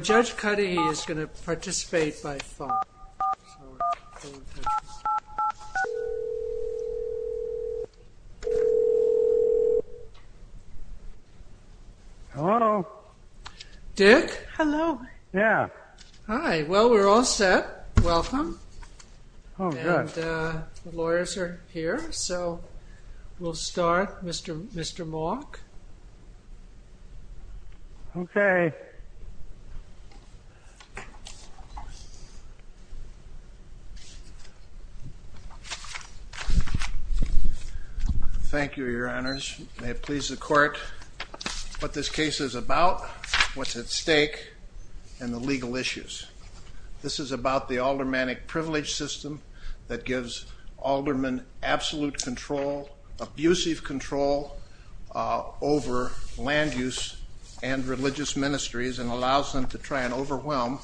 Judge Cudahy is going to participate by phone. Hello. Dick? Hello. Yeah. Oh, good. And the lawyers are here, so we'll start. Mr. Malk? Okay. Thank you, Your Honors. May it please the Court what this case is about, what's at stake, and the legal issues. This is about the aldermanic privilege system that gives aldermen absolute control, abusive control, over land use and religious ministries and allows them to try and overwhelm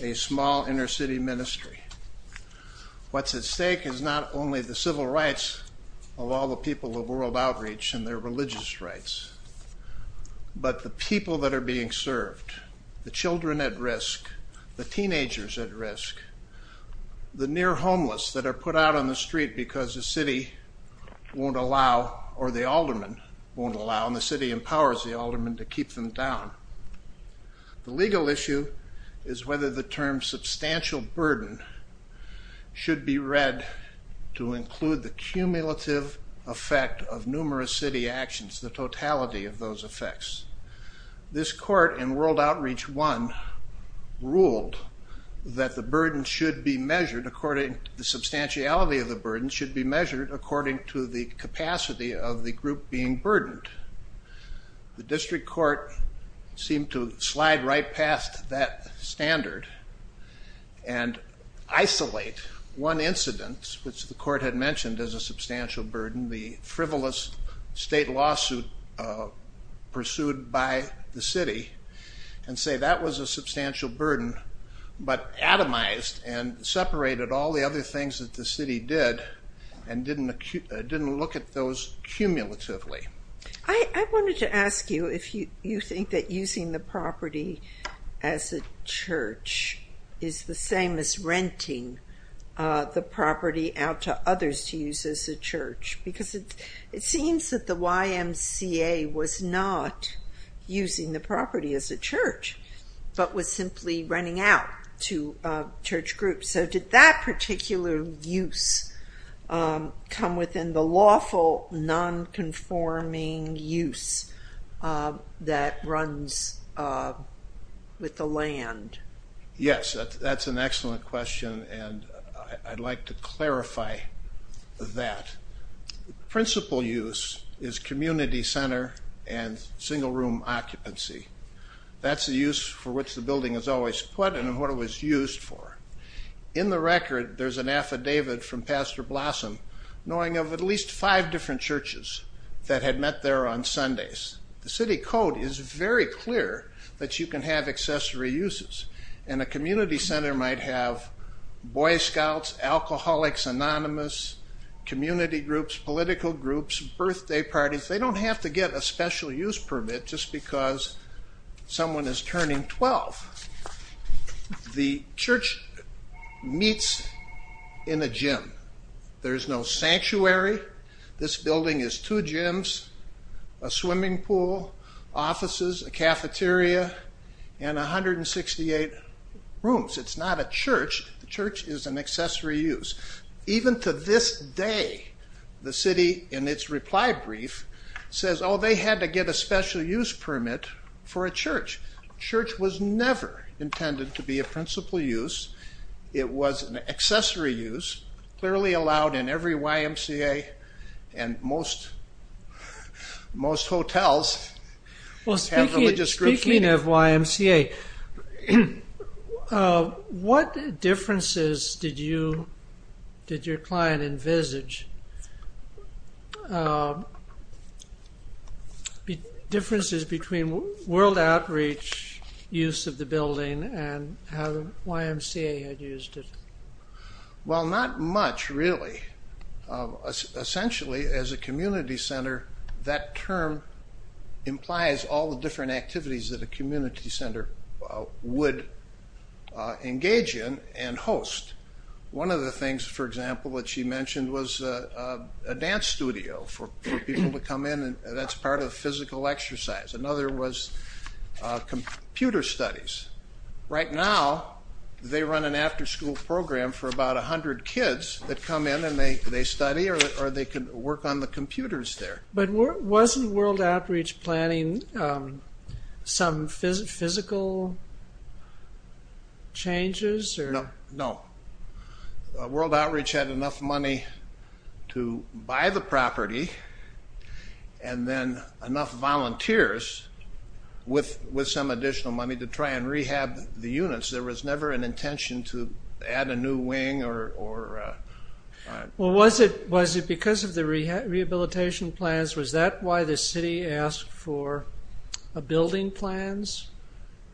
a small inner-city ministry. What's at stake is not only the civil rights of all the people of World Outreach and their children, the teenagers at risk, the near homeless that are put out on the street because the city won't allow, or the alderman won't allow, and the city empowers the alderman to keep them down. The legal issue is whether the term substantial burden should be read to include the cumulative effect of numerous city actions, the totality of those effects. This court in World Outreach 1 ruled that the burden should be measured according to the substantiality of the burden should be measured according to the capacity of the group being burdened. The district court seemed to slide right past that standard and isolate one incident, which the court had mentioned as a substantial burden, the frivolous state lawsuit pursued by the city, and say that was a substantial burden, but atomized and separated all the other things that the city did and didn't look at those cumulatively. I wanted to ask you if you think that using the property as a church is the same as renting the property out to others to use as a church, because it seems that the YMCA was not using the property as a church, but was simply renting out to church groups, so did that particular use come within the lawful non-conforming use that runs with the land? Yes, that's an excellent question, and I'd like to clarify that. Principal use is community center and single room occupancy. That's the use for which the building is always put and what it was used for. In the record, there's an affidavit from Pastor Blossom knowing of at least five different churches that had met there on Sundays. The city code is very clear that you can have accessory uses, and a community center might have Boy Scouts, Alcoholics Anonymous, community groups, political groups, birthday parties. They don't have to get a special use permit just because someone is turning 12. The church meets in a gym. There's no sanctuary. This building is two gyms, a swimming pool, offices, a cafeteria, and 168 rooms. It's not a church. The church is an accessory use. Even to this day, the city, in its reply brief, says, oh, they had to get a special use permit for a church. Church was never intended to be a principal use. It was an accessory use, clearly allowed in every YMCA, and most hotels have religious groups meeting. Speaking of YMCA, what differences did your client envisage? Differences between world outreach use of the building and how YMCA had used it? Well, not much, really. Essentially, as a community center, that term implies all the different activities that a community center would engage in and host. One of the things, for example, that she mentioned was a dance studio for people to come in, and that's part of physical exercise. Another was computer studies. Right now, they run an after-school program for about 100 kids that come in and they study or they can work on the computers there. But wasn't world outreach planning some physical changes? No. World outreach had enough money to buy the property and then enough volunteers with some additional money to try and rehab the units. There was never an intention to add a new wing or... Well, was it because of the rehabilitation plans? Was that why the city asked for building plans?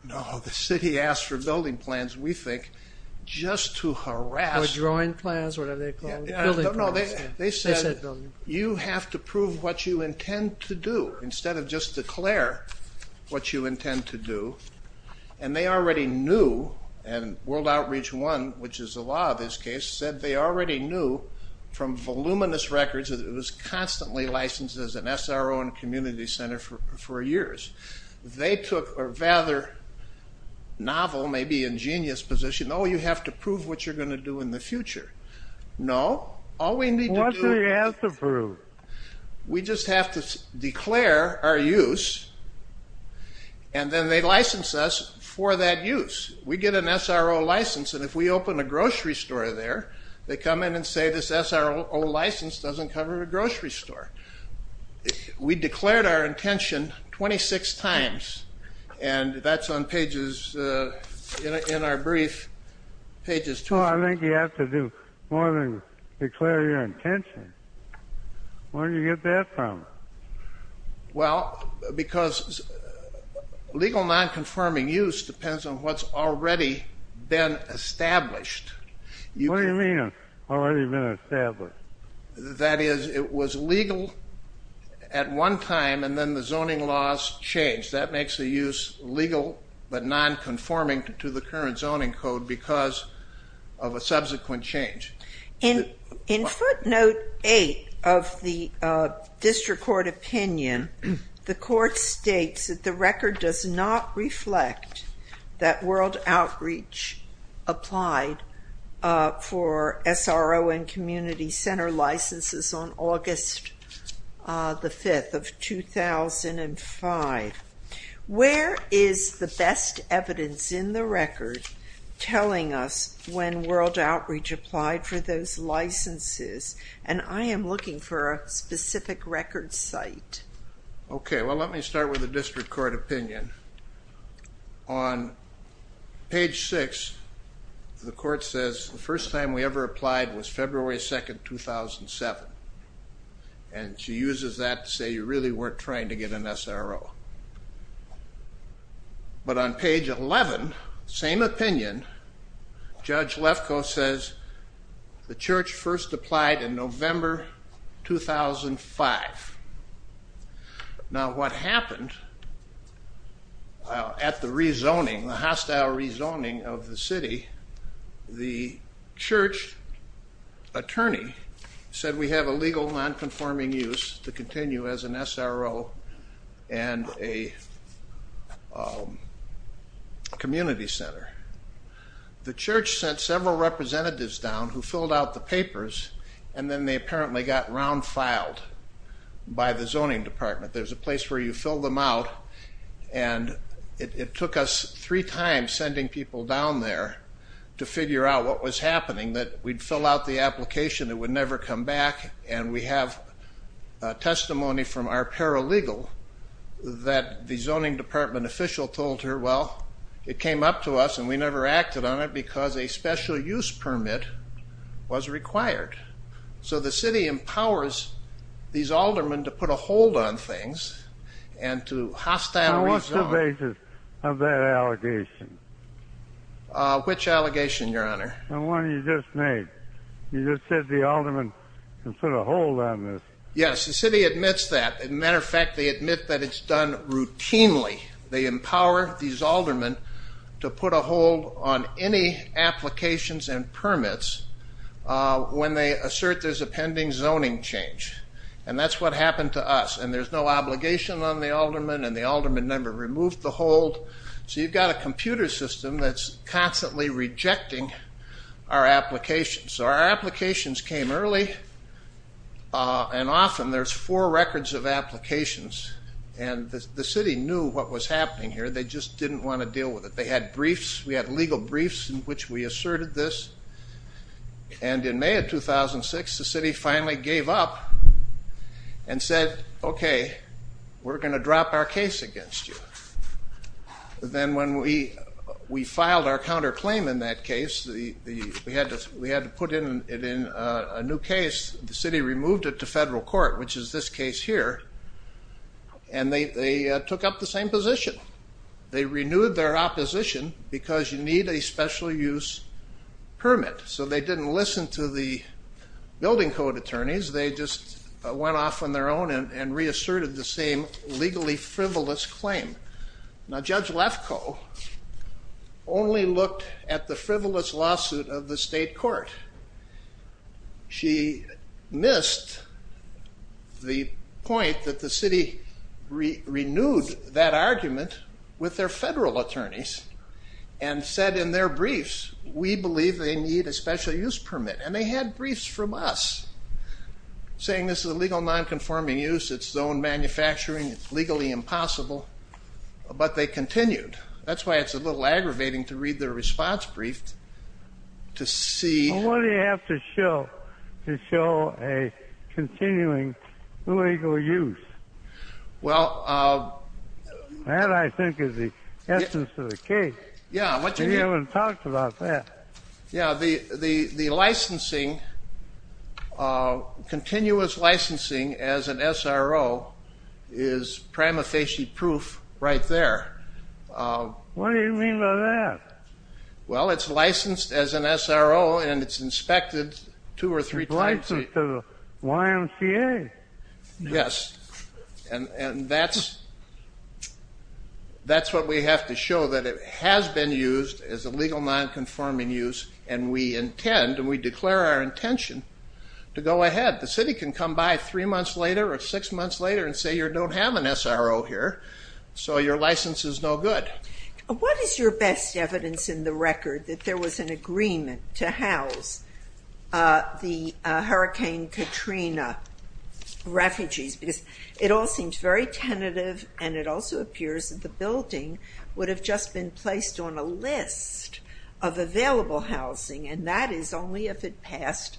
No. The city asked for building plans, we think, just to harass... Or drawing plans, whatever they're called. Building plans. No, no. They said, you have to prove what you intend to do instead of just declare what you intend to do. And they already knew, and World Outreach One, which is the law of this case, said they already knew from voluminous records that it was constantly licensed as an SRO and community center for years. They took a rather novel, maybe ingenious position, oh, you have to prove what you're going to do in the future. No. All we need to do... What do you have to prove? We just have to declare our use and then they license us for that use. We get an SRO license and if we open a grocery store there, they come in and say this SRO license doesn't cover a grocery store. We declared our intention 26 times, and that's on pages, in our brief, pages 26... I think you have to do more than declare your intention. Where do you get that from? Well, because legal non-confirming use depends on what's already been established. What do you mean, already been established? That is, it was legal at one time and then the zoning laws changed. That makes the use legal but non-conforming to the current zoning code because of a subsequent change. In footnote 8 of the district court opinion, the court states that the record does not on August the 5th of 2005. Where is the best evidence in the record telling us when World Outreach applied for those licenses? And I am looking for a specific record site. Okay. Well, let me start with the district court opinion. On page 6, the court says the first time we ever applied was February 2nd, 2007. And she uses that to say you really weren't trying to get an SRO. But on page 11, same opinion, Judge Lefkoe says the church first applied in November 2005. Now what happened at the re-zoning, the hostile re-zoning of the city, the church attorney said we have a legal non-conforming use to continue as an SRO and a community center. The church sent several representatives down who filled out the papers and then they apparently got round filed by the zoning department. There's a place where you fill them out and it took us three times sending people down there to figure out what was happening, that we'd fill out the application, it would never come back, and we have testimony from our paralegal that the zoning department official told her, well, it came up to us and we never acted on it because a special use permit was required. So the city empowers these aldermen to put a hold on things and to hostile re-zone. Now what's the basis of that allegation? Which allegation, Your Honor? The one you just made. You just said the aldermen can put a hold on this. Yes, the city admits that. As a matter of fact, they admit that it's done routinely. They empower these aldermen to put a hold on any applications and permits when they assert there's a pending zoning change. And that's what happened to us. And there's no obligation on the alderman and the alderman never removed the hold. So you've got a computer system that's constantly rejecting our applications. Our applications came early and often there's four records of applications. And the city knew what was happening here. They just didn't want to deal with it. They had briefs. We had legal briefs in which we asserted this. And in May of 2006, the city finally gave up and said, okay, we're going to drop our case against you. Then when we filed our counterclaim in that case, we had to put it in a new case. The city removed it to federal court, which is this case here. And they took up the same position. They renewed their opposition because you need a special use permit. So they didn't listen to the building code attorneys. They just went off on their own and reasserted the same legally frivolous claim. Now Judge Lefkoe only looked at the frivolous lawsuit of the state court. She missed the point that the city renewed that argument with their federal attorneys and said in their briefs, we believe they need a special use permit. And they had briefs from us saying this is illegal nonconforming use, it's zoned manufacturing, it's legally impossible. But they continued. That's why it's a little aggravating to read their response brief to see what do you have to show to show a continuing illegal use? That I think is the essence of the case. We haven't talked about that. The licensing, continuous licensing as an SRO is prima facie proof right there. What do you mean by that? Well, it's licensed as an SRO and it's inspected two or three times. It's licensed to the YMCA. Yes. And that's what we have to show, that it has been used as illegal nonconforming use and we intend and we declare our intention to go ahead. The city can come by three months later or six months later and say you don't have an SRO here, so your license is no good. What is your best evidence in the record that there was an agreement to house the Hurricane Katrina refugees? Because it all seems very tentative and it also appears that the building would have just been placed on a list of available housing and that is only if it passed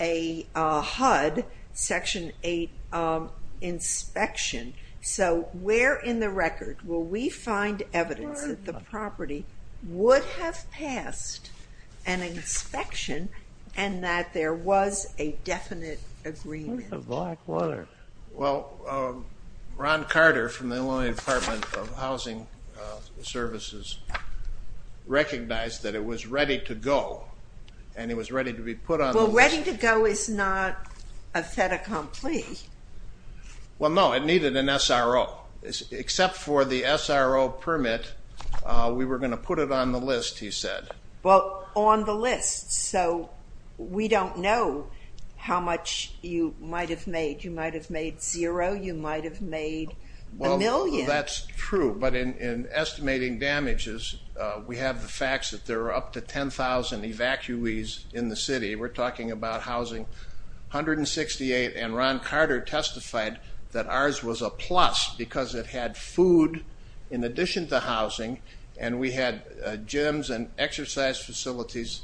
a HUD Section 8 inspection. So where in the record will we find evidence that the property would have passed an inspection and that there was a definite agreement? Where's the black water? Well, Ron Carter from the Illinois Department of Housing Services recognized that it was ready to go and it was ready to be put on the list. Well, ready to go is not a fait accompli. Well, no, it needed an SRO. Except for the SRO permit, we were going to put it on the list, he said. Well, on the list, so we don't know how much you might have made. You might have made zero, you might have made a million. Well, that's true, but in estimating damages, we have the facts that there are up to 10,000 evacuees in the city. We're talking about housing, 168. And Ron Carter testified that ours was a plus because it had food in addition to housing and we had gyms and exercise facilities.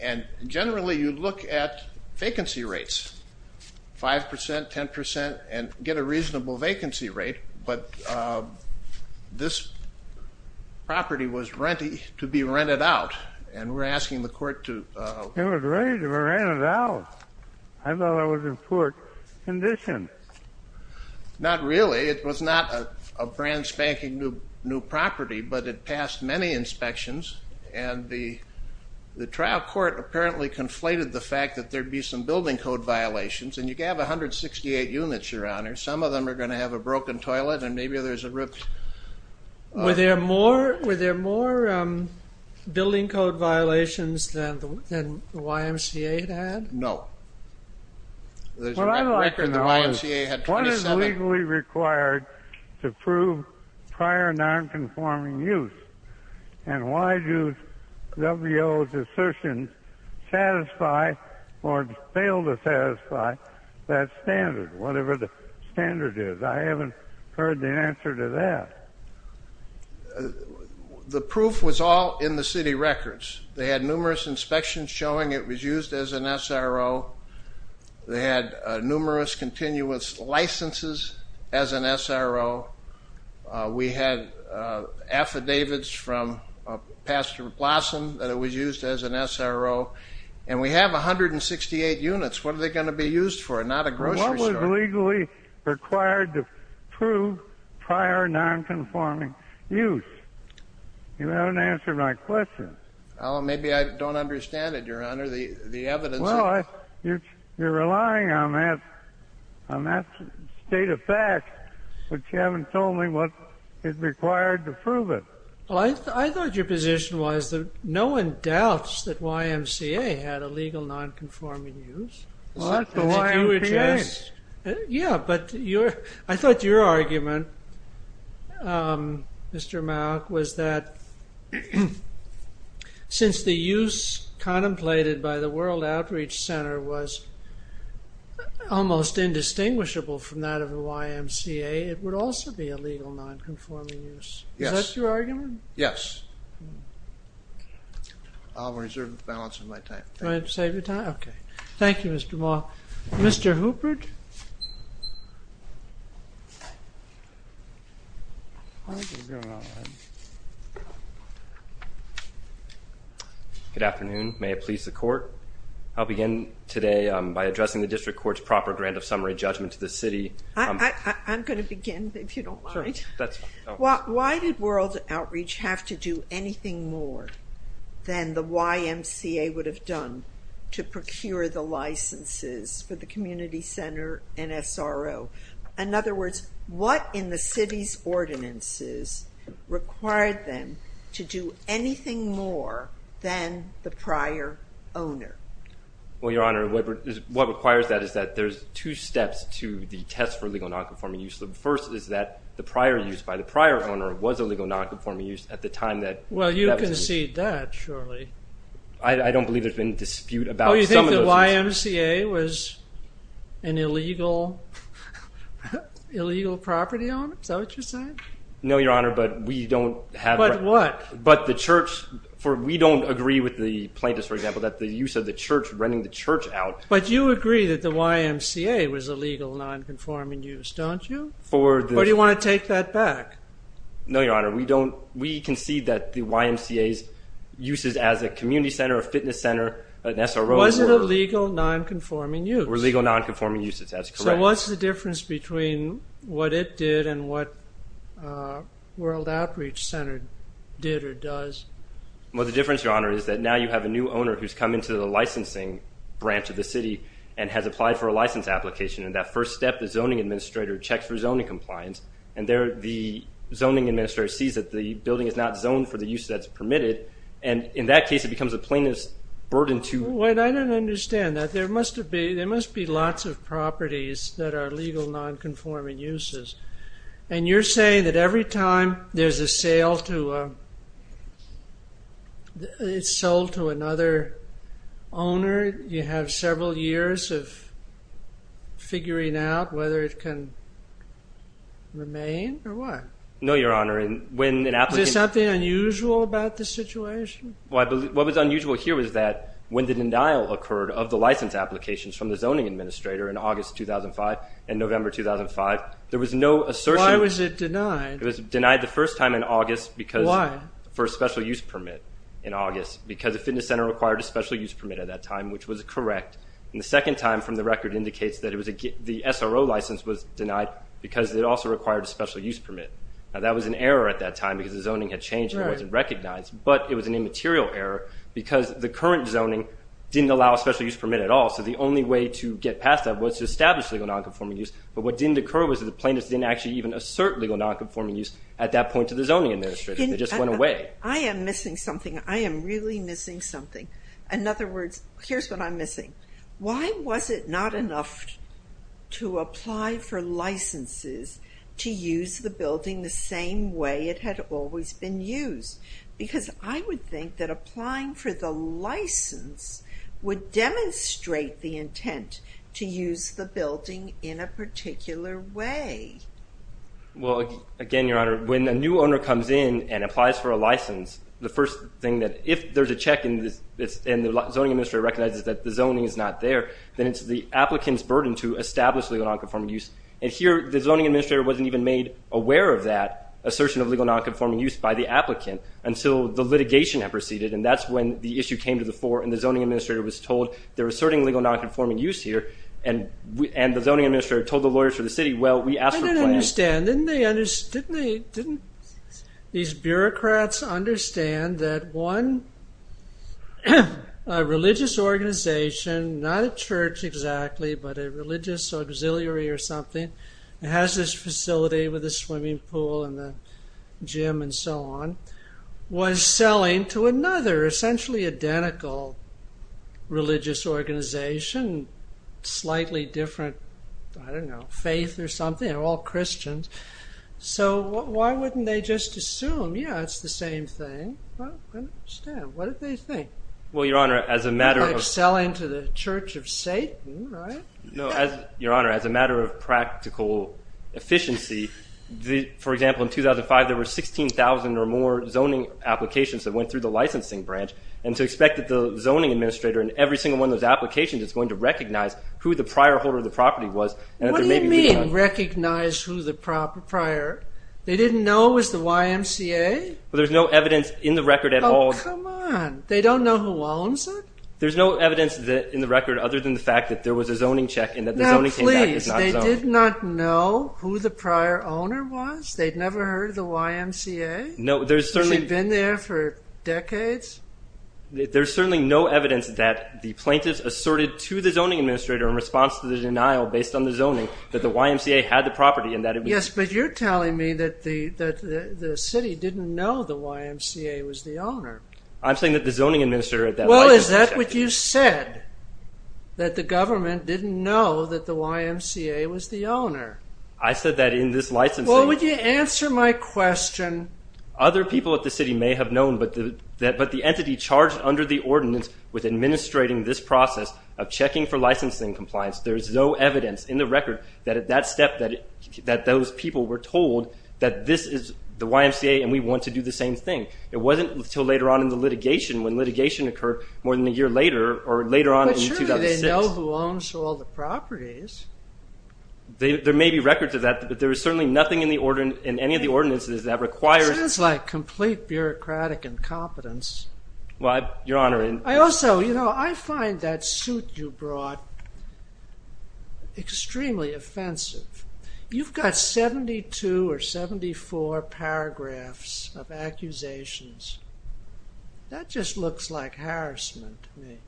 And generally you look at vacancy rates, 5%, 10%, and get a reasonable vacancy rate, but this property was to be rented out. And we're asking the court to... It was ready to be rented out. I thought it was in poor condition. Not really. It was not a brand-spanking-new property, but it passed many inspections and the trial court apparently conflated the fact that there'd be some building code violations. And you have 168 units, Your Honor. Some of them are going to have a broken toilet and maybe there's a ripped... Were there more building code violations than the YMCA had? No. What I'd like to know is what is legally required to prove prior non-conforming use? And why do W.O.'s assertions satisfy or fail to satisfy that standard, whatever the standard is? I haven't heard the answer to that. The proof was all in the city records. They had numerous inspections showing it was used as an SRO. They had numerous continuous licenses as an SRO. We had affidavits from Pastor Blossom that it was used as an SRO. And we have 168 units. What was legally required to prove prior non-conforming use? You haven't answered my question. Well, maybe I don't understand it, Your Honor. The evidence... Well, you're relying on that state of fact, but you haven't told me what is required to prove it. Well, I thought your position was that no one doubts that YMCA had illegal non-conforming use. What? The YMCA? Yeah, but I thought your argument, Mr. Mauck, was that since the use contemplated by the World Outreach Center was almost indistinguishable from that of the YMCA, it would also be illegal non-conforming use. Yes. Is that your argument? Yes. I'll reserve the balance of my time. Okay. Thank you, Mr. Mauck. Mr. Hubert? Good afternoon. May it please the Court, I'll begin today by addressing the District Court's proper grant of summary judgment to the city. I'm going to begin, if you don't mind. Sure, that's fine. Why did World Outreach have to do anything more than the YMCA would have done to procure the licenses for the community center and SRO? In other words, what in the city's ordinances required them to do anything more than the prior owner? Well, Your Honor, what requires that is that there's two steps to the test for illegal non-conforming use. The first is that the prior use by the prior owner was illegal non-conforming use at the time that that was used. I concede that, surely. I don't believe there's been a dispute about some of those uses. Oh, you think the YMCA was an illegal property owner? Is that what you're saying? No, Your Honor, but we don't have... But what? But the church... We don't agree with the plaintiffs, for example, that the use of the church, renting the church out... But you agree that the YMCA was illegal non-conforming use, don't you? For the... Or do you want to take that back? No, Your Honor. We don't... We concede that the YMCA's uses as a community center, a fitness center, an SRO... Was it illegal non-conforming use? Were legal non-conforming uses. That's correct. So what's the difference between what it did and what World Outreach Center did or does? Well, the difference, Your Honor, is that now you have a new owner who's come into the licensing branch of the city and has applied for a license application, and that first step, the zoning administrator checks for zoning compliance, and the zoning administrator sees that the building is not zoned for the use that's permitted, and in that case it becomes a plaintiff's burden to... Wait, I don't understand that. There must be lots of properties that are legal non-conforming uses, and you're saying that every time there's a sale to... It's sold to another owner, you have several years of figuring out whether it can remain or what? No, Your Honor, when an applicant... Is there something unusual about this situation? What was unusual here was that when the denial occurred of the license applications from the zoning administrator in August 2005 and November 2005, there was no assertion... Why was it denied? It was denied the first time in August because... Why? For a special use permit in August because the fitness center required a special use permit at that time, which was correct. And the second time from the record indicates that the SRO license was denied because it also required a special use permit. Now, that was an error at that time because the zoning had changed and it wasn't recognized, but it was an immaterial error because the current zoning didn't allow a special use permit at all, so the only way to get past that was to establish legal non-conforming use. But what didn't occur was that the plaintiffs didn't actually even assert legal non-conforming use at that point to the zoning administrator. It just went away. I am missing something. I am really missing something. In other words, here's what I'm missing. Why was it not enough to apply for licenses to use the building the same way it had always been used? Because I would think that applying for the license would demonstrate the intent to use the building in a particular way. Well, again, Your Honor, when a new owner comes in and applies for a license, the first thing that if there's a check and the zoning administrator recognizes that the zoning is not there, then it's the applicant's burden to establish legal non-conforming use. And here, the zoning administrator wasn't even made aware of that assertion of legal non-conforming use by the applicant until the litigation had proceeded, and that's when the issue came to the fore and the zoning administrator was told they're asserting legal non-conforming use here, and the zoning administrator told the lawyers for the city, well, we asked for plans. I didn't understand. Didn't these bureaucrats understand that one religious organization, not a church exactly, but a religious auxiliary or something that has this facility with a swimming pool and a gym and so on, was selling to another essentially identical religious organization, slightly different, I don't know, faith or something. They're all Christians. So why wouldn't they just assume, yeah, it's the same thing. I don't understand. What did they think? Well, Your Honor, as a matter of... Like selling to the Church of Satan, right? No, Your Honor, as a matter of practical efficiency, for example, in 2005, there were 16,000 or more zoning applications that went through the licensing branch, and to expect that the zoning administrator in every single one of those applications is going to recognize who the prior holder of the property was What do you mean recognize who the prior... They didn't know it was the YMCA? Well, there's no evidence in the record at all. Oh, come on. They don't know who owns it? There's no evidence in the record other than the fact that there was a zoning check and that the zoning came back as not zoned. Now, please, they did not know who the prior owner was? They'd never heard of the YMCA? No, there's certainly... She'd been there for decades? There's certainly no evidence that the plaintiffs asserted to the zoning administrator in response to the denial based on the zoning that the YMCA had the property and that it was... Yes, but you're telling me that the city didn't know the YMCA was the owner. I'm saying that the zoning administrator... Well, is that what you said? That the government didn't know that the YMCA was the owner? I said that in this licensing... Well, would you answer my question? Other people at the city may have known, but the entity charged under the ordinance with administrating this process of checking for licensing compliance, there's no evidence in the record that at that step that those people were told that this is the YMCA and we want to do the same thing. It wasn't until later on in the litigation when litigation occurred more than a year later or later on in 2006. But surely they know who owns all the properties. There may be records of that, but there is certainly nothing in any of the ordinances that requires... It sounds like complete bureaucratic incompetence. Well, Your Honor... I also, you know, I find that suit you brought extremely offensive. You've got 72 or 74 paragraphs of accusations. That just looks like harassment to me.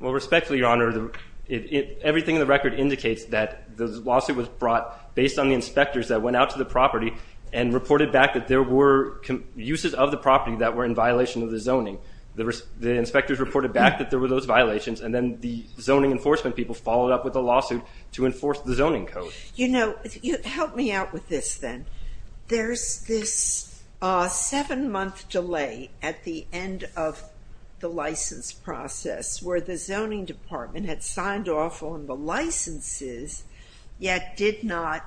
Well, respectfully, Your Honor, everything in the record indicates that the lawsuit was brought based on the inspectors that went out to the property and reported back that there were uses of the property that were in violation of the zoning. The inspectors reported back that there were those violations and then the zoning enforcement people followed up with a lawsuit to enforce the zoning code. You know, help me out with this then. There's this seven-month delay at the end of the license process where the zoning department had signed off on the licenses yet did not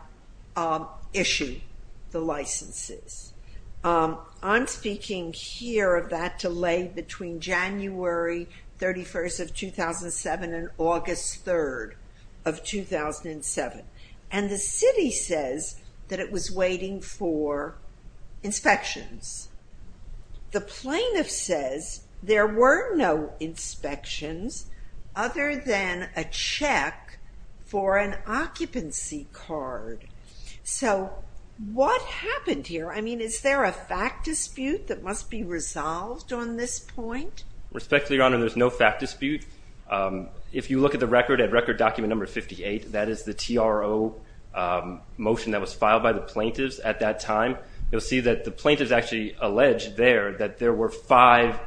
issue the licenses. I'm speaking here of that delay between January 31st of 2007 and August 3rd of 2007. And the city says that it was waiting for inspections. The plaintiff says there were no inspections other than a check for an occupancy card. So what happened here? I mean, is there a fact dispute that must be resolved on this point? Respectfully, Your Honor, there's no fact dispute. If you look at the record at record document number 58, that is the TRO motion that was filed by the plaintiffs at that time, you'll see that the plaintiffs actually alleged there that there were five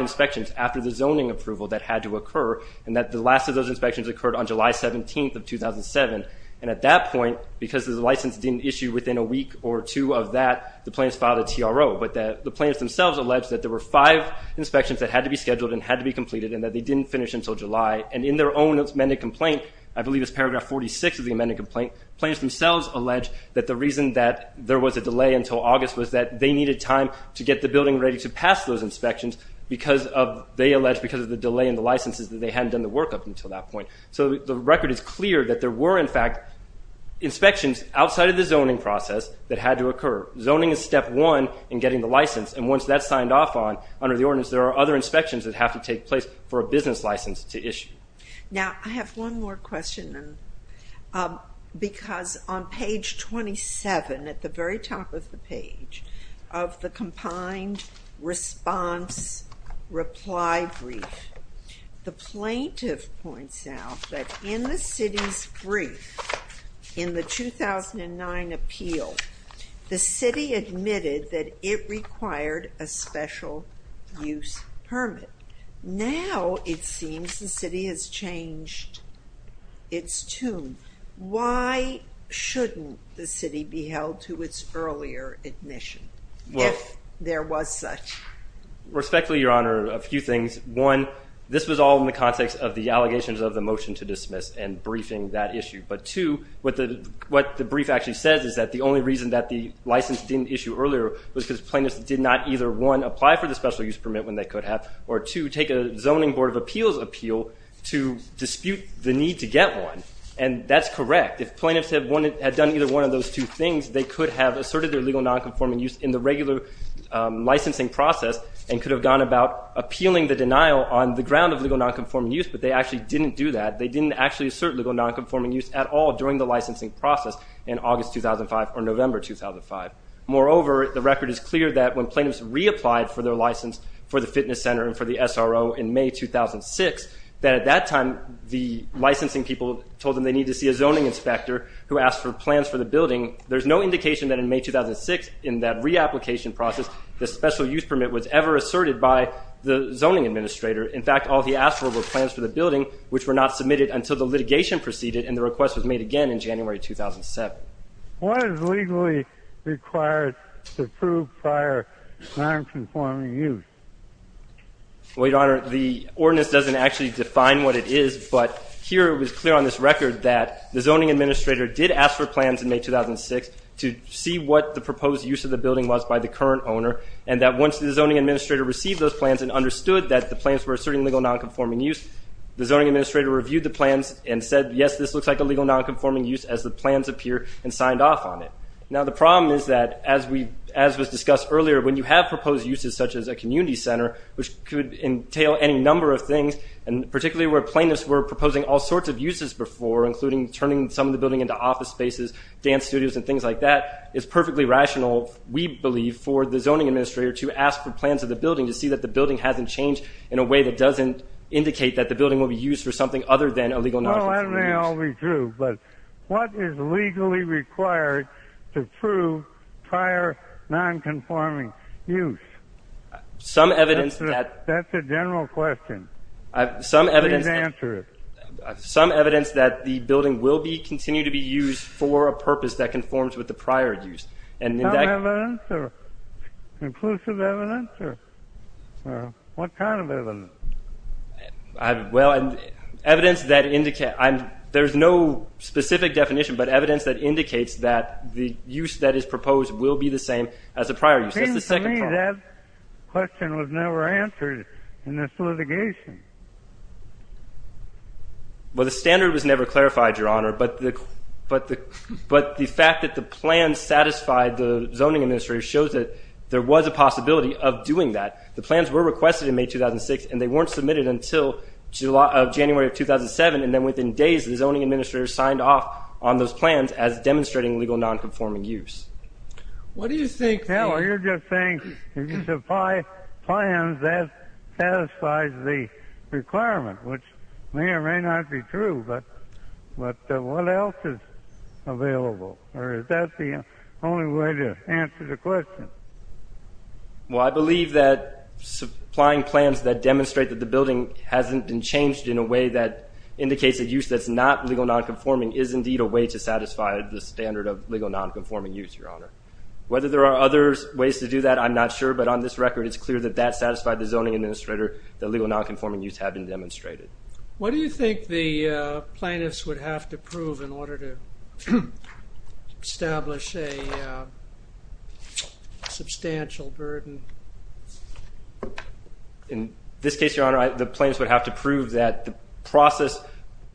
inspections after the zoning approval that had to occur and that the last of those inspections occurred on July 17th of 2007. And at that point, because the license didn't issue within a week or two of that, the plaintiffs filed a TRO. But the plaintiffs themselves alleged that there were five inspections that had to be scheduled and had to be completed and that they didn't finish until July. And in their own amended complaint, I believe it's paragraph 46 of the amended complaint, plaintiffs themselves alleged that the reason that there was a delay until August was that they needed time to get the building ready to pass those inspections because of, they alleged, because of the delay in the licenses that they hadn't done the work of until that point. So the record is clear that there were, in fact, inspections outside of the zoning process that had to occur. Zoning is step one in getting the license and once that's signed off on under the ordinance, there are other inspections that have to take place for a business license to issue. Now, I have one more question because on page 27, at the very top of the page, of the combined response reply brief, the plaintiff points out that in the city's brief in the 2009 appeal, the city admitted that it required a special use permit. Now it seems the city has changed its tune. Why shouldn't the city be held to its earlier admission if there was such? Respectfully, Your Honor, a few things. One, this was all in the context of the allegations of the motion to dismiss and briefing that issue. But two, what the brief actually says is that the only reason that the license didn't issue earlier was because plaintiffs did not either, one, apply for the special use permit when they could have, or two, take a zoning board of appeals appeal to dispute the need to get one. And that's correct. If plaintiffs had done either one of those two things, they could have asserted their legal nonconforming use in the regular licensing process and could have gone about appealing the denial on the ground of legal nonconforming use, but they actually didn't do that. They didn't actually assert legal nonconforming use at all during the licensing process in August 2005 or November 2005. Moreover, the record is clear that when plaintiffs reapplied for their license for the fitness center and for the SRO in May 2006, that at that time the licensing people told them they needed to see a zoning inspector who asked for plans for the building. There's no indication that in May 2006, in that reapplication process, the special use permit was ever asserted by the zoning administrator. In fact, all he asked for were plans for the building, which were not submitted until the litigation proceeded, and the request was made again in January 2007. What is legally required to prove prior nonconforming use? Well, Your Honor, the ordinance doesn't actually define what it is, but here it was clear on this record that the zoning administrator did ask for plans in May 2006 to see what the proposed use of the building was by the current owner, and that once the zoning administrator received those plans and understood that the plans were asserting legal nonconforming use, the zoning administrator reviewed the plans and said, yes, this looks like a legal nonconforming use as the plans appear, and signed off on it. Now, the problem is that, as was discussed earlier, when you have proposed uses such as a community center, which could entail any number of things, and particularly where plaintiffs were proposing all sorts of uses before, including turning some of the building into office spaces, dance studios, and things like that, it's perfectly rational, we believe, for the zoning administrator to ask for plans of the building to see that the building hasn't changed in a way that doesn't indicate that the building will be used for something other than a legal nonconforming use. Well, that may all be true, but what is legally required to prove prior nonconforming use? Some evidence that... That's a general question. Please answer it. Some evidence that the building will continue to be used for a purpose that conforms with the prior use. Some evidence, or conclusive evidence, or what kind of evidence? Well, evidence that indicates... There's no specific definition, but evidence that indicates that the use that is proposed will be the same as the prior use. It seems to me that question was never answered in this litigation. Well, the standard was never clarified, Your Honor, but the fact that the plan satisfied the zoning administrator shows that there was a possibility of doing that. The plans were requested in May 2006, and they weren't submitted until January of 2007, and then within days, the zoning administrator signed off on those plans as demonstrating legal nonconforming use. What do you think... No, you're just saying if you supply plans, that satisfies the requirement, which may or may not be true, but what else is available? Or is that the only way to answer the question? Well, I believe that supplying plans that demonstrate that the building hasn't been changed in a way that indicates a use that's not legal nonconforming is indeed a way to satisfy the standard of legal nonconforming use, Your Honor. Whether there are other ways to do that, I'm not sure, but on this record, it's clear that that satisfied the zoning administrator that legal nonconforming use had been demonstrated. What do you think the plaintiffs would have to prove in order to establish a substantial burden? In this case, Your Honor, the plaintiffs would have to prove that the process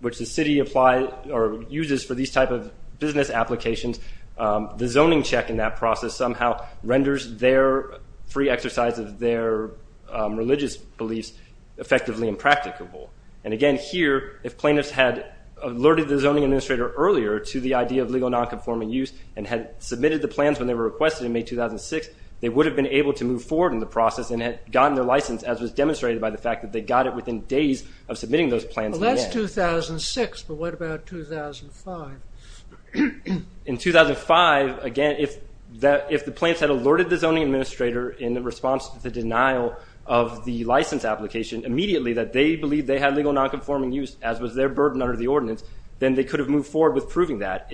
which the city applies or uses for these type of business applications, the zoning check in that process somehow renders their free exercise of their religious beliefs effectively impracticable. And again, here, if plaintiffs had alerted the zoning administrator earlier to the idea of legal nonconforming use and had submitted the plans when they were requested in May 2006, they would have been able to move forward in the process and had gotten their license as was demonstrated by the fact that they got it within days of submitting those plans in May. Well, that's 2006, but what about 2005? In 2005, again, if the plaintiffs had alerted the zoning administrator in response to the denial of the license application immediately that they believed they had legal nonconforming use, as was their burden under the ordinance, then they could have moved forward with proving that.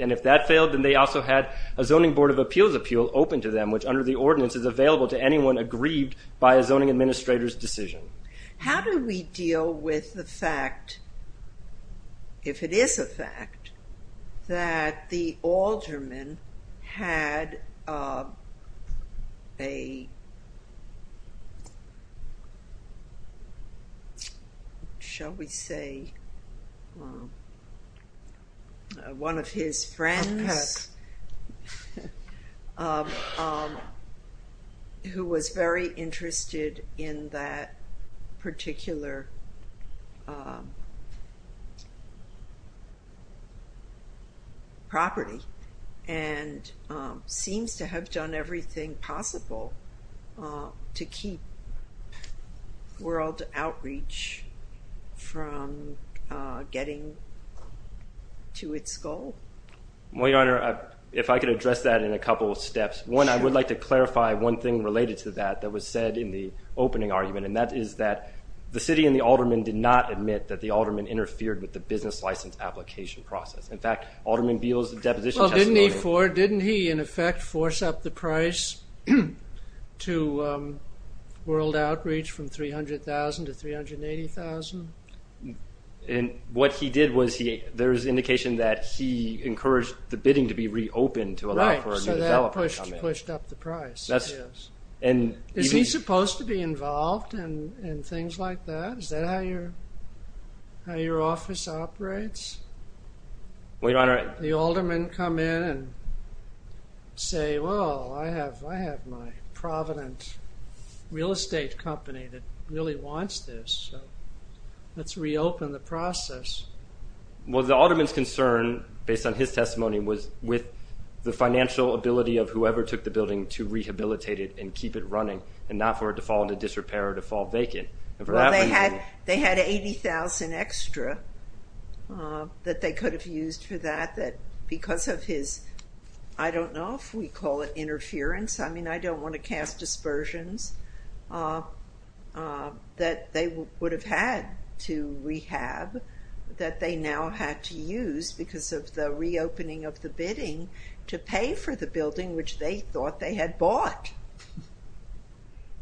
And if that failed, then they also had a Zoning Board of Appeals appeal open to them, which under the ordinance is available to anyone aggrieved by a zoning administrator's decision. How do we deal with the fact, if it is a fact, that the alderman had a, shall we say, one of his friends who was very interested in that particular property and seems to have done everything possible to keep World Outreach from getting to its goal? Well, Your Honor, if I could address that in a couple of steps. One, I would like to clarify one thing related to that that was said in the opening argument, and that is that the city and the alderman did not admit that the alderman interfered with the business license application process. In fact, Alderman Beal's deposition testimony... Well, didn't he, in effect, force up the price to World Outreach from $300,000 to $380,000? And what he did was, there's indication that he encouraged the bidding to be reopened to allow for a new development. Right, so that pushed up the price, yes. Is he supposed to be involved in things like that? Is that how your office operates? Well, Your Honor... The alderman come in and say, well, I have my provident real estate company that really wants this, so let's reopen the process. Well, the alderman's concern, based on his testimony, was with the financial ability of whoever took the building to rehabilitate it and keep it running and not for it to fall into disrepair or to fall vacant. Well, they had $80,000 extra that they could have used for that that because of his, I don't know if we call it interference, I mean, I don't want to cast dispersions, that they would have had to rehab that they now had to use because of the reopening of the bidding to pay for the building which they thought they had bought.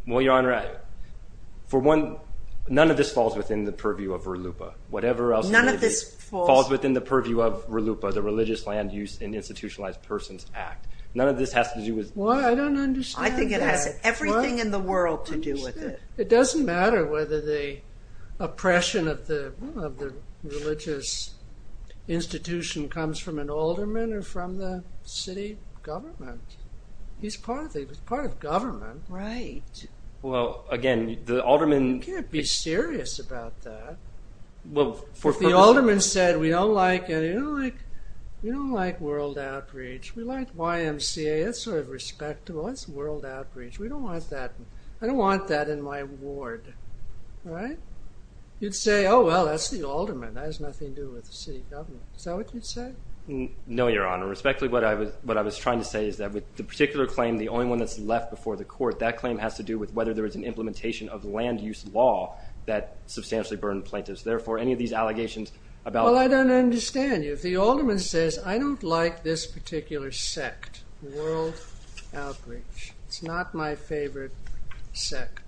Well, Your Honor, for one, none of this falls within the purview of RLUIPA. Whatever else falls within the purview of RLUIPA, the Religious Land Use and Institutionalized Persons Act. None of this has to do with... Well, I don't understand that. I think it has everything in the world to do with it. It doesn't matter whether the oppression of the religious institution comes from an alderman or from the city government. He's part of the government. Right. Well, again, the alderman... You can't be serious about that. If the alderman said, we don't like World Outreach, we like YMCA, that's sort of respectable. That's World Outreach. We don't want that. I don't want that in my ward, right? You'd say, oh, well, that's the alderman. Is that what you'd say? No, Your Honor. Respectfully, what I was trying to say is that with the particular claim, the only one that's left before the court, that claim has to do with whether there is an implementation of land use law that substantially burden plaintiffs. Therefore, any of these allegations about... Well, I don't understand you. If the alderman says, I don't like this particular sect, World Outreach, it's not my favorite sect,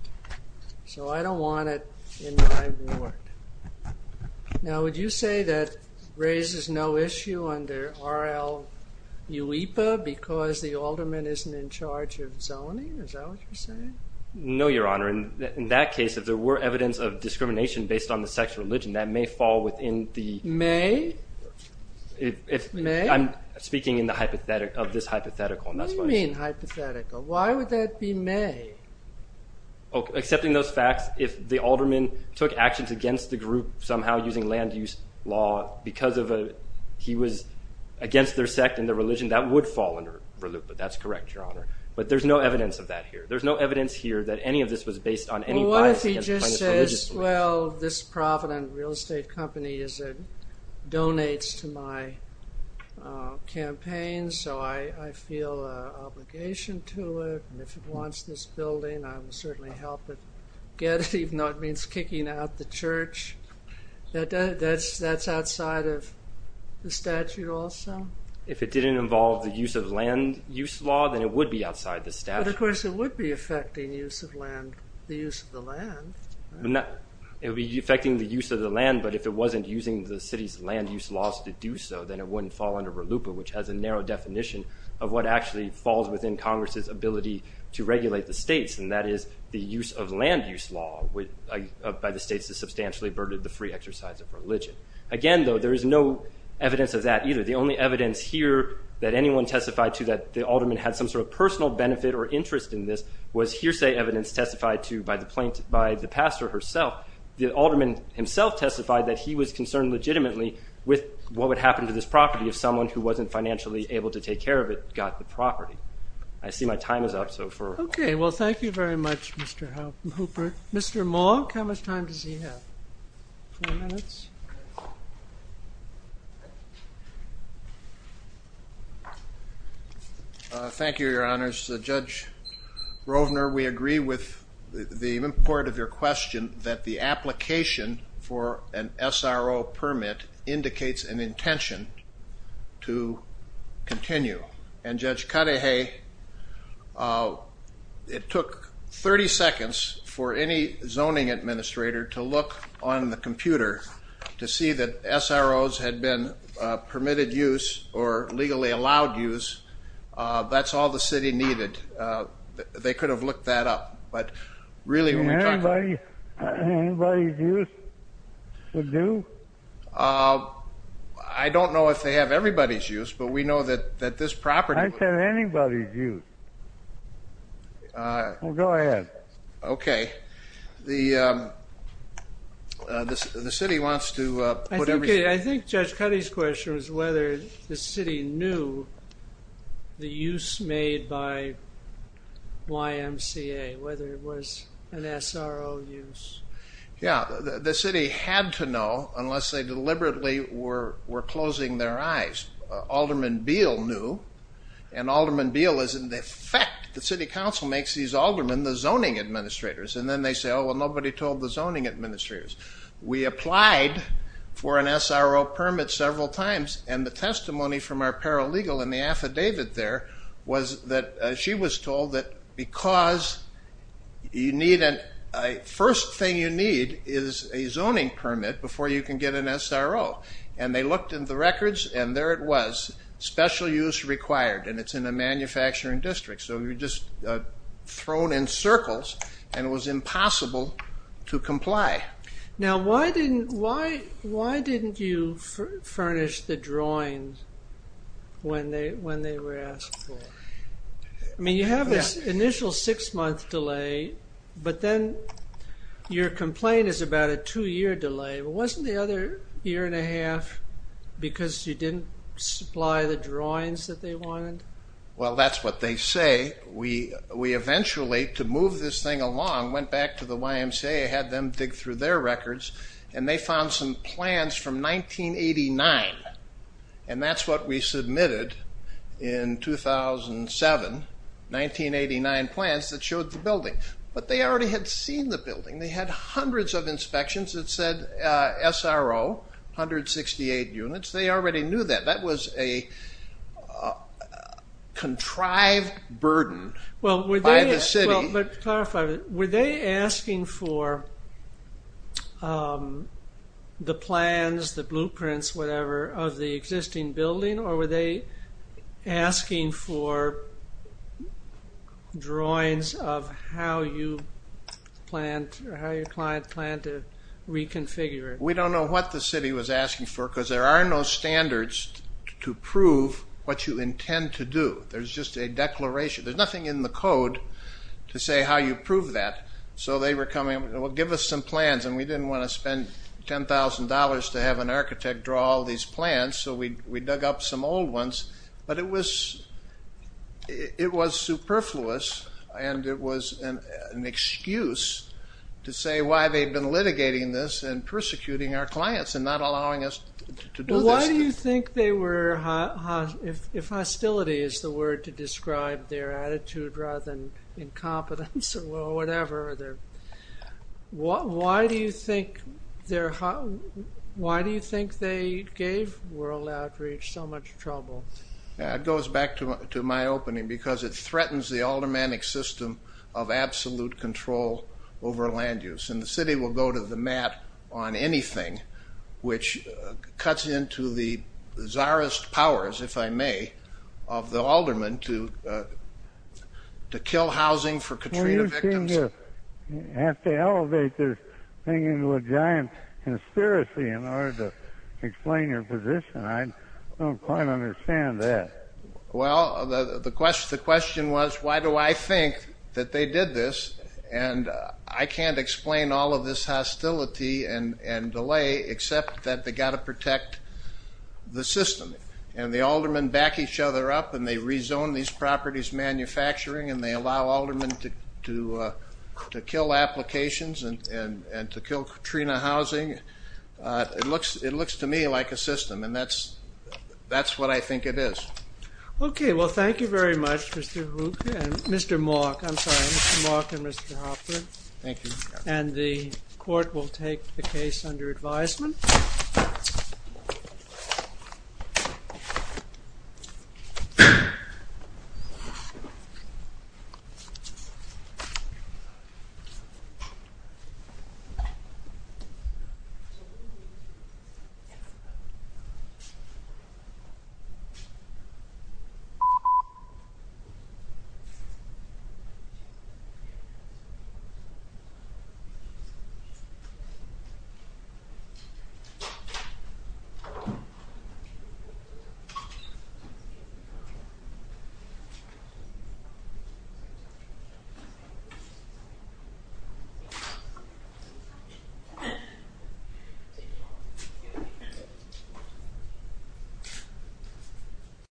so I don't want it in my ward. Now, would you say that raises no issue under RL UIPA because the alderman isn't in charge of zoning? Is that what you're saying? No, Your Honor. In that case, if there were evidence of discrimination based on the sect's religion, that may fall within the... May? I'm speaking of this hypothetical. What do you mean hypothetical? Why would that be may? Accepting those facts, if the alderman took actions against the group somehow using land use law because he was against their sect and their religion, that would fall under RL UIPA. That's correct, Your Honor. But there's no evidence of that here. There's no evidence here that any of this was based on any bias... Well, what if he just says, well, this provident real estate company donates to my campaign, so I feel an obligation to it, and if it wants this building, I will certainly help it get it, even though it means kicking out the church. That's outside of the statute also? If it didn't involve the use of land use law, then it would be outside the statute. But, of course, it would be affecting the use of the land. It would be affecting the use of the land, but if it wasn't using the city's land use laws to do so, then it wouldn't fall under RL UIPA, which has a narrow definition of what actually falls within Congress's ability to regulate the states, and that is the use of land use law by the states that substantially averted the free exercise of religion. Again, though, there is no evidence of that either. The only evidence here that anyone testified to that the alderman had some sort of personal benefit or interest in this was hearsay evidence testified to by the pastor herself. The alderman himself testified that he was concerned legitimately with what would happen to this property if someone who wasn't financially able to take care of it got the property. I see my time is up. Okay. Well, thank you very much, Mr. Hooper. Mr. Monk, how much time does he have? Four minutes? Thank you, Your Honors. Judge Rovner, we agree with the import of your question that the application for an SRO permit indicates an intention to continue. And Judge Kadeha, it took 30 seconds for any zoning administrator to look on the computer to see that SROs had been permitted use or legally allowed use. That's all the city needed. They could have looked that up. Anybody's use would do? I don't know if they have everybody's use, but we know that this property would. I said anybody's use. Go ahead. Okay. The city wants to put everything. I think Judge Kadeha's question was whether the city knew the use made by YMCA, whether it was an SRO use. Yeah. The city had to know unless they deliberately were closing their eyes. Alderman Beal knew, and Alderman Beal is in effect. The city council makes these aldermen the zoning administrators. And then they say, oh, well, nobody told the zoning administrators. We applied for an SRO permit several times, and the testimony from our paralegal in the affidavit there was that she was told that because the first thing you need is a zoning permit before you can get an SRO. And they looked in the records, and there it was, special use required, and it's in a manufacturing district. So you're just thrown in circles, and it was impossible to comply. Now, why didn't you furnish the drawings when they were asked for? I mean, you have this initial six-month delay, but then your complaint is about a two-year delay. Wasn't the other year and a half because you didn't supply the drawings that they wanted? Well, that's what they say. We eventually, to move this thing along, went back to the YMCA, had them dig through their records, and they found some plans from 1989, and that's what we submitted in 2007, 1989 plans that showed the building. But they already had seen the building. They had hundreds of inspections that said SRO, 168 units. They already knew that. That was a contrived burden by the city. Well, but clarify, were they asking for the plans, the blueprints, whatever, of the existing building, or were they asking for drawings of how your client planned to reconfigure it? We don't know what the city was asking for because there are no standards to prove what you intend to do. There's just a declaration. There's nothing in the code to say how you prove that. So they were coming, well, give us some plans, and we didn't want to spend $10,000 to have an architect draw all these plans, so we dug up some old ones, but it was superfluous, and it was an excuse to say why they'd been litigating this and persecuting our clients and not allowing us to do this. Why do you think they were, if hostility is the word to describe their attitude rather than incompetence or whatever, why do you think they gave World Outreach so much trouble? It goes back to my opening because it threatens the automatic system of absolute control over land use, and the city will go to the mat on anything which cuts into the czarist powers, if I may, of the aldermen to kill housing for Katrina victims. Well, you seem to have to elevate this thing into a giant conspiracy in order to explain your position. I don't quite understand that. Well, the question was why do I think that they did this, and I can't explain all of this hostility and delay except that they've got to protect the system, and the aldermen back each other up, and they rezone these properties manufacturing, and they allow aldermen to kill applications and to kill Katrina housing. It looks to me like a system, and that's what I think it is. Okay, well, thank you very much, Mr. Hoop and Mr. Malk. I'm sorry, Mr. Malk and Mr. Hoffman. Thank you. And the court will take the case under advisement. Thank you.